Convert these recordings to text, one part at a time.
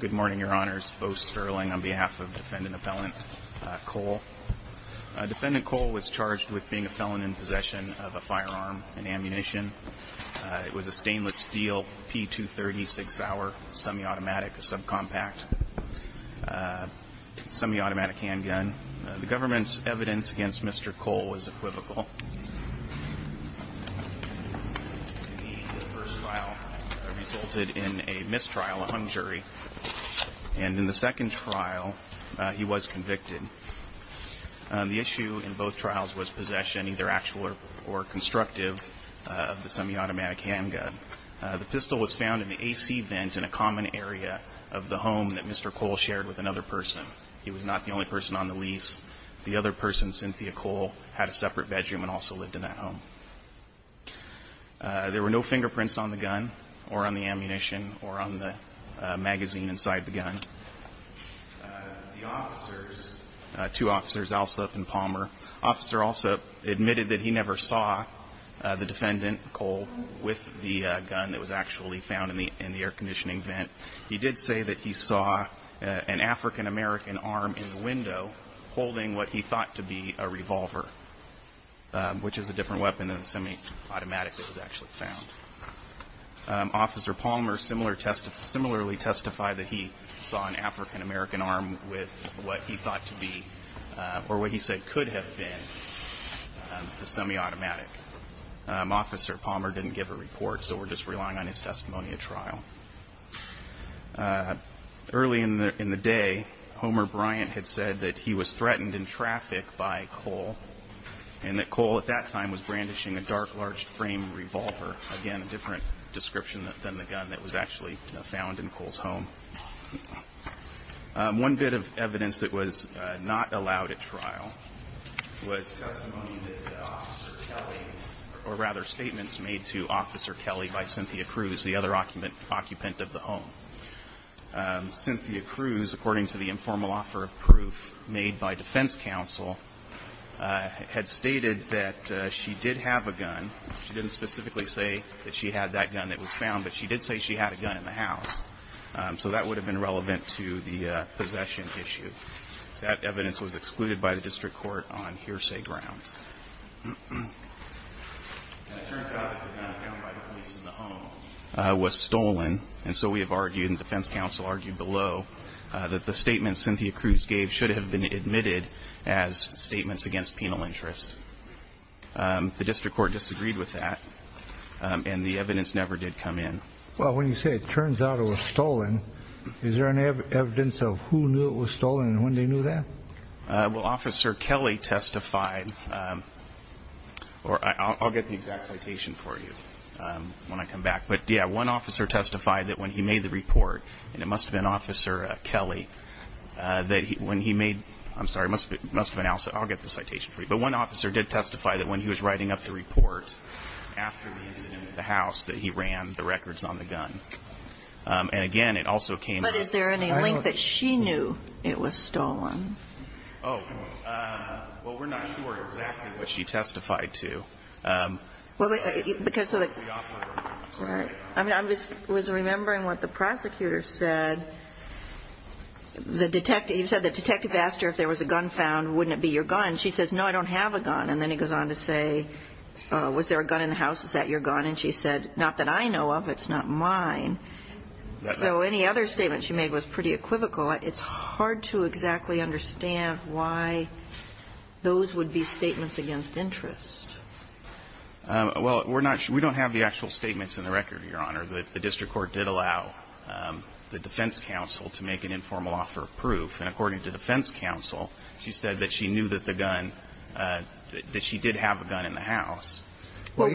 Good morning, your honors. Bo Sterling on behalf of defendant appellant Cole. Defendant Cole was charged with being a felon in possession of a firearm and ammunition. It was a stainless steel p230 six-hour semi-automatic subcompact semi-automatic handgun. The government's evidence against mr. Cole was equivocal. The first trial resulted in a mistrial on jury and in the second trial he was convicted. The issue in both trials was possession either actual or constructive of the semi-automatic handgun. The pistol was found in the AC vent in a common area of the home that mr. Cole shared with another person. He was not the only person on the lease. The other person Cynthia Cole had a also lived in that home. There were no fingerprints on the gun or on the ammunition or on the magazine inside the gun. The officers, two officers Alsup and Palmer, officer Alsup admitted that he never saw the defendant Cole with the gun that was actually found in the in the air-conditioning vent. He did say that he saw an african-american arm in the window holding what he thought to be a which is a different weapon than the semi-automatic that was actually found. Officer Palmer similarly testified that he saw an african-american arm with what he thought to be or what he said could have been the semi-automatic. Officer Palmer didn't give a report so we're just relying on his testimony at trial. Early in the day Homer Bryant had said that he was threatened in traffic by Cole and that Cole at that time was brandishing a dark large frame revolver. Again a different description than the gun that was actually found in Cole's home. One bit of evidence that was not allowed at trial was testimony or rather statements made to officer Kelly by Cynthia Cruz the other occupant occupant of the home. Cynthia Cruz according to the informal offer of proof made by defense counsel had stated that she did have a gun. She didn't specifically say that she had that gun that was found but she did say she had a gun in the house so that would have been relevant to the possession issue. That evidence was excluded by the district court on hearsay grounds. It was stolen and so we have argued and defense counsel argued below that the interest the district court disagreed with that and the evidence never did come in. Well when you say it turns out it was stolen is there any evidence of who knew it was stolen and when they knew that? Well officer Kelly testified or I'll get the exact citation for you when I come back but yeah one officer testified that when he made the report and it must have been officer Kelly that when he made I'm sorry must have been I'll get the citation for you but one officer did testify that when he was writing up the report after the incident the house that he ran the records on the gun and again it also came. But is there any link that she knew it was stolen? Oh well we're not sure exactly what she testified to. Well because I mean I'm just was remembering what the prosecutor said the detective he said the detective asked her if there was a gun found wouldn't it be your gun she says no I don't have a gun and then he goes on to say was there a gun in the house is that your gun and she said not that I know of it's not mine. So any other statement she made was pretty equivocal. It's hard to exactly understand why those would be statements against interest. Well we're not we don't have the actual statements in the record your honor that the defense counsel to make an informal offer of proof and according to defense counsel she said that she knew that the gun that she did have a gun in the house. No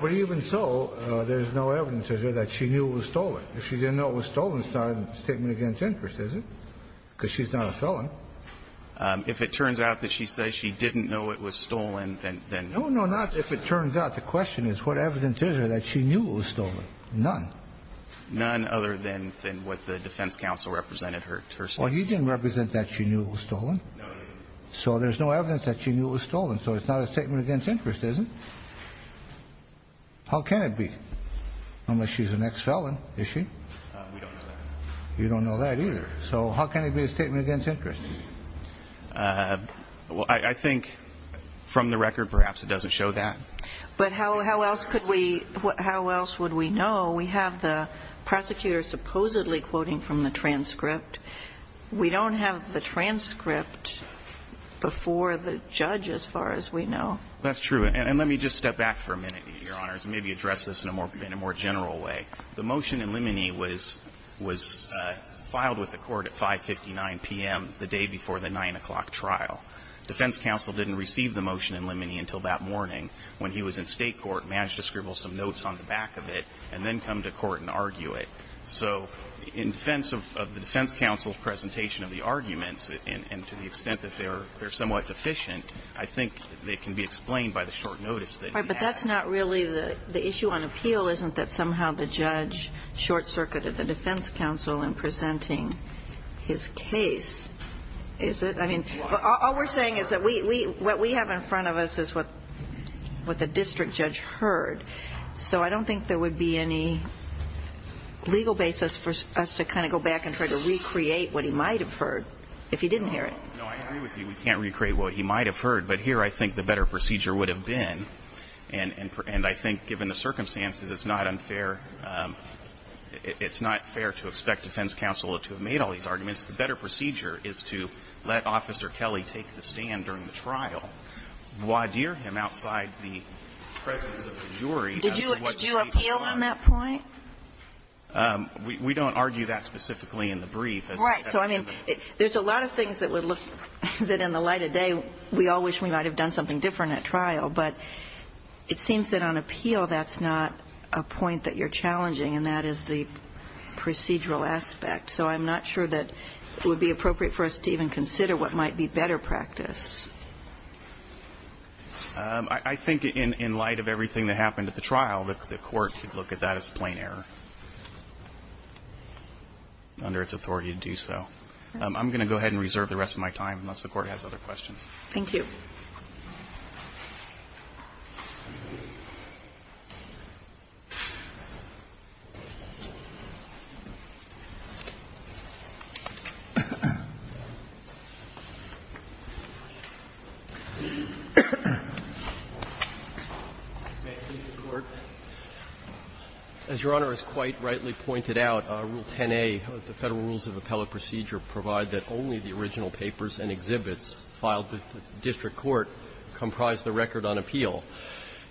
but even so there's no evidence that she knew it was stolen. If she didn't know it was stolen it's not a statement against interest is it? Because she's not a felon. If it turns out that she says she didn't know it was stolen then no no not if it turns out the question is what evidence is there that she knew it was stolen? None. None other than what the defense counsel represented her statement. Well you didn't represent that she knew it was stolen? No. So there's no evidence that she knew it was stolen so it's not a statement against interest is it? How can it be? Unless she's an ex-felon is she? We don't know that. You don't know that either. So how can it be a statement against interest? Well I think from the record perhaps it doesn't show that. But how how else could we how else would we know? We have the prosecutor supposedly quoting from the transcript. We don't have the transcript before the judge as far as we know. That's true. And let me just step back for a minute, Your Honors, and maybe address this in a more general way. The motion in Limine was was filed with the court at 559 p.m. the day before the 9 o'clock trial. Defense counsel didn't receive the motion in Limine until that morning when he was in State court, managed to scribble some notes on the back of it, and then come to court and argue it. So in defense of the defense counsel's presentation of the arguments, and to the extent that they're they're somewhat deficient, I think they can be explained by the short notice that he had. All right. But that's not really the issue on appeal, isn't that somehow the judge short-circuited the defense counsel in presenting his case, is it? I mean, all we're saying is that we we what we have in front of us is what what the district judge heard. So I don't think there would be any legal basis for us to kind of go back and try to recreate what he might have heard if he didn't hear it. No, I agree with you. We can't recreate what he might have heard. But here I think the better procedure would have been. And I think given the circumstances, it's not unfair. It's not fair to expect defense counsel to have made all these arguments. The better procedure is to let Officer Kelly take the stand during the trial, voir dire him outside the presence of the jury as to what to say before him. Did you appeal on that point? We don't argue that specifically in the brief. Right. So, I mean, there's a lot of things that would look that in the light of day we all wish we might have done something different at trial. But it seems that on appeal, that's not a point that you're challenging, and that is the procedural aspect. So I'm not sure that it would be appropriate for us to even consider what might be better practice. I think in light of everything that happened at the trial, the Court could look at that as plain error under its authority to do so. I'm going to go ahead and reserve the rest of my time, unless the Court has other questions. Thank you. As Your Honor has quite rightly pointed out, Rule 10a of the Federal Rules of Appellate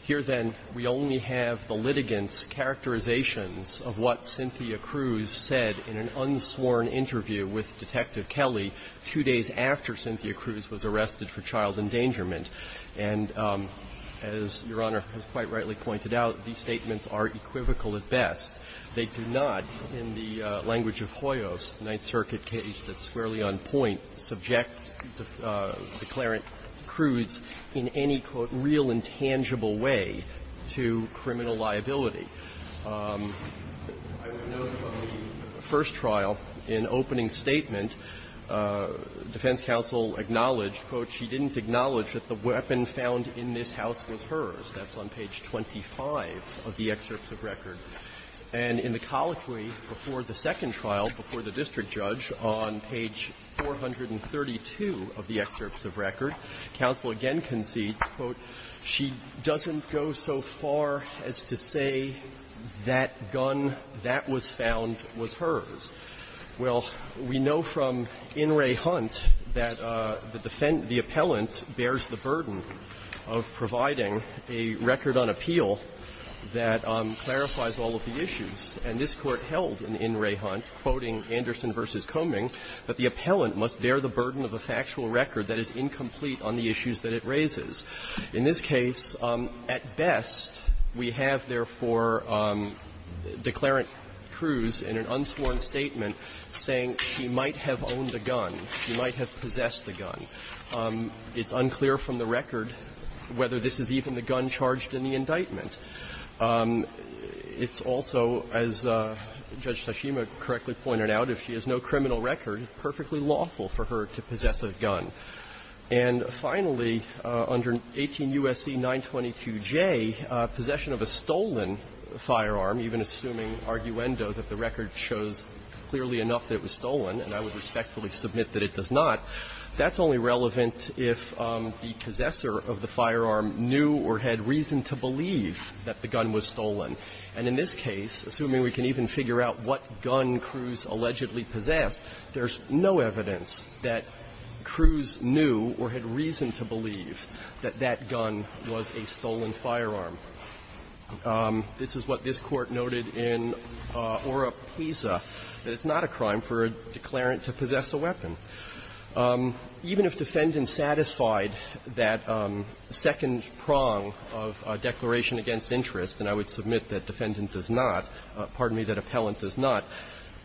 Here, then, we only have the litigants' characterizations of what Cynthia Cruz said in an unsworn interview with Detective Kelly two days after Cynthia Cruz was arrested for child endangerment. And as Your Honor has quite rightly pointed out, these statements are equivocal at best. They do not, in the language of Hoyos, the Ninth Circuit case that's squarely on point, subject the declarant Cruz in any, quote, real and tangible way to criminal liability. I would note from the first trial, in opening statement, defense counsel acknowledged, quote, she didn't acknowledge that the weapon found in this house was hers. That's on page 25 of the excerpts of record. And in the colloquy before the second trial, before the district judge, on page 432 of the excerpts of record, counsel again concedes, quote, she doesn't go so far as to say that gun that was found was hers. Well, we know from In re Hunt that the defendant the appellant bears the burden of providing a record on appeal that clarifies all of the issues. And this Court held in In re Hunt, quoting Anderson v. Coming, that the appellant must bear the burden of a factual record that is incomplete on the issues that it raises. In this case, at best, we have, therefore, declarant Cruz in an unsworn statement saying she might have owned a gun, she might have possessed a gun. It's unclear from the record whether this is even the gun charged in the indictment. It's also, as Judge Tashima correctly pointed out, if she has no criminal record, it's perfectly lawful for her to possess a gun. And finally, under 18 U.S.C. 922J, possession of a stolen firearm, even assuming arguendo that the record shows clearly enough that it was stolen, and I would respectfully submit that it does not, that's only relevant if the possessor of the firearm knew or had reason to believe that the gun was stolen. And in this case, assuming we can even figure out what gun Cruz allegedly possessed, there's no evidence that Cruz knew or had reason to believe that that gun was a stolen firearm. This is what this Court noted in Ora Pisa, that it's not a crime for a declarant to possess a weapon. Even if defendants satisfied that second prong of a declaration against interest, and I would submit that defendant does not, pardon me, that appellant does not,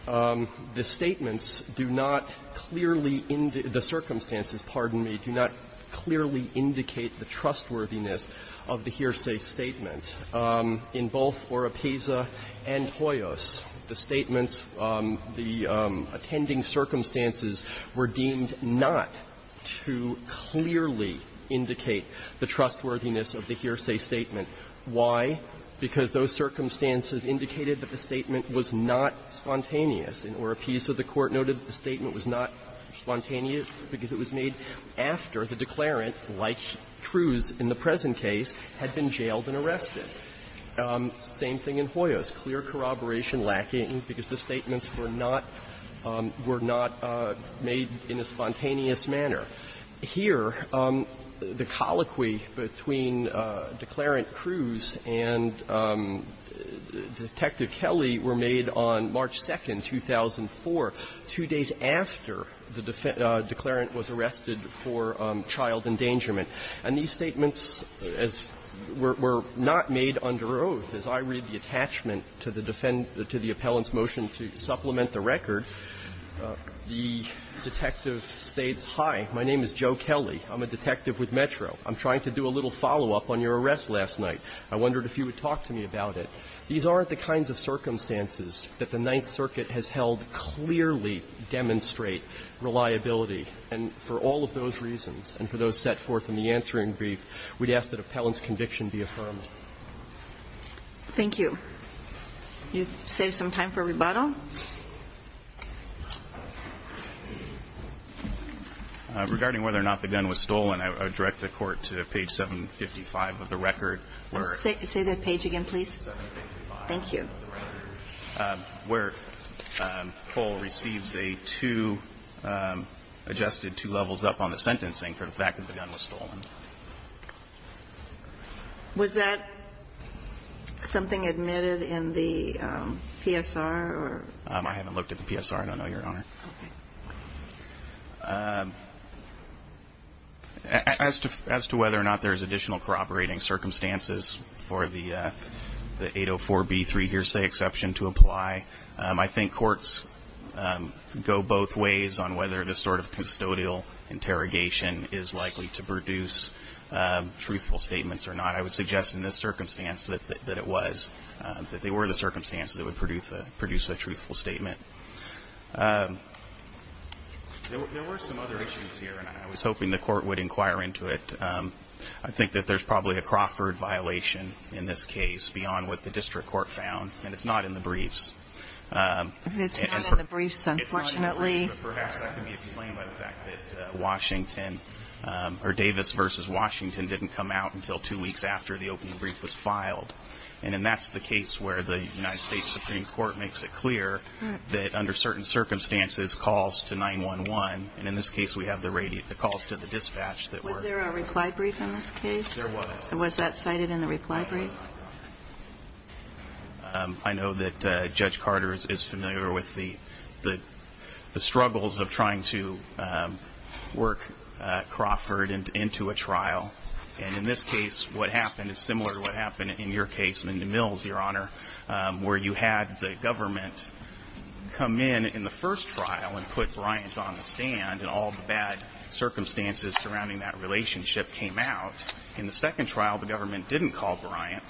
the statements do not clearly indicate the circumstances, pardon me, do not clearly indicate the trustworthiness of the hearsay statement in both Ora Pisa and Hoyos. The circumstances were deemed not to clearly indicate the trustworthiness of the hearsay statement. Why? Because those circumstances indicated that the statement was not spontaneous. In Ora Pisa, the Court noted the statement was not spontaneous because it was made after the declarant, like Cruz in the present case, had been jailed and arrested. Same thing in Hoyos. Clear corroboration, lacking, because the statements were not made in a spontaneous manner. Here, the colloquy between Declarant Cruz and Detective Kelley were made on March 2nd, 2004, two days after the declarant was arrested for child endangerment. And these statements were not made under oath. As I read the attachment to the defendant to the appellant's motion to supplement the record, the detective states, hi, my name is Joe Kelley. I'm a detective with Metro. I'm trying to do a little follow-up on your arrest last night. I wondered if you would talk to me about it. These aren't the kinds of circumstances that the Ninth Circuit has held clearly demonstrate reliability. And for all of those reasons, and for those set forth in the answering brief, we'd ask that appellant's conviction be affirmed. Thank you. You save some time for rebuttal. Regarding whether or not the gun was stolen, I would direct the Court to page 755 of the record. Say that page again, please. Thank you. Where Cole receives a two, adjusted two levels up on the sentencing for the fact that the gun was stolen. Was that something admitted in the PSR or? I haven't looked at the PSR. I don't know, Your Honor. Okay. As to whether or not there's additional corroborating circumstances for the 804b3 hearsay exception to apply, I think courts go both ways on whether this sort of custodial interrogation is likely to produce truthful statements or not. I would suggest in this circumstance that it was, that they were the circumstances that would produce a truthful statement. There were some other issues here, and I was hoping the Court would inquire into it. I think that there's probably a Crawford violation in this case beyond what the district court found, and it's not in the briefs. It's not in the briefs, unfortunately. But perhaps that could be explained by the fact that Washington, or Davis versus Washington, didn't come out until two weeks after the open brief was filed. And that's the case where the United States Supreme Court makes it clear that under certain circumstances, calls to 911, and in this case, we have the radio, the calls to the dispatch that were. Was there a reply brief in this case? There was. Was that cited in the reply brief? I know that Judge Carter is familiar with the struggles of trying to work Crawford into a trial. And in this case, what happened is similar to what happened in your case, Linda Mills, Your Honor, where you had the government come in in the first trial and put Bryant on the stand, and all the bad circumstances surrounding that relationship came out. In the second trial, the government didn't call Bryant,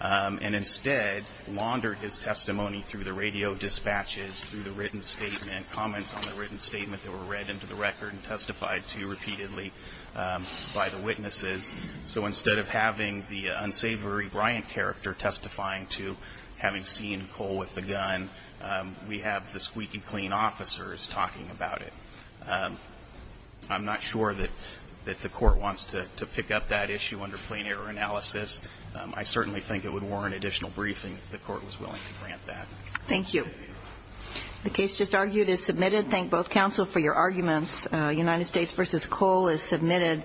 and instead laundered his testimony through the radio dispatches, through the written statement, comments on the written statement that were read into the record and testified to repeatedly by the witnesses. So instead of having the unsavory Bryant character testifying to having seen Cole with the gun, we have the squeaky clean officers talking about it. I'm not sure that the Court wants to pick up that issue under plain error analysis. I certainly think it would warrant additional briefing if the Court was willing to grant that. Thank you. The case just argued is submitted. Thank both counsel for your arguments. United States v. Cole is submitted.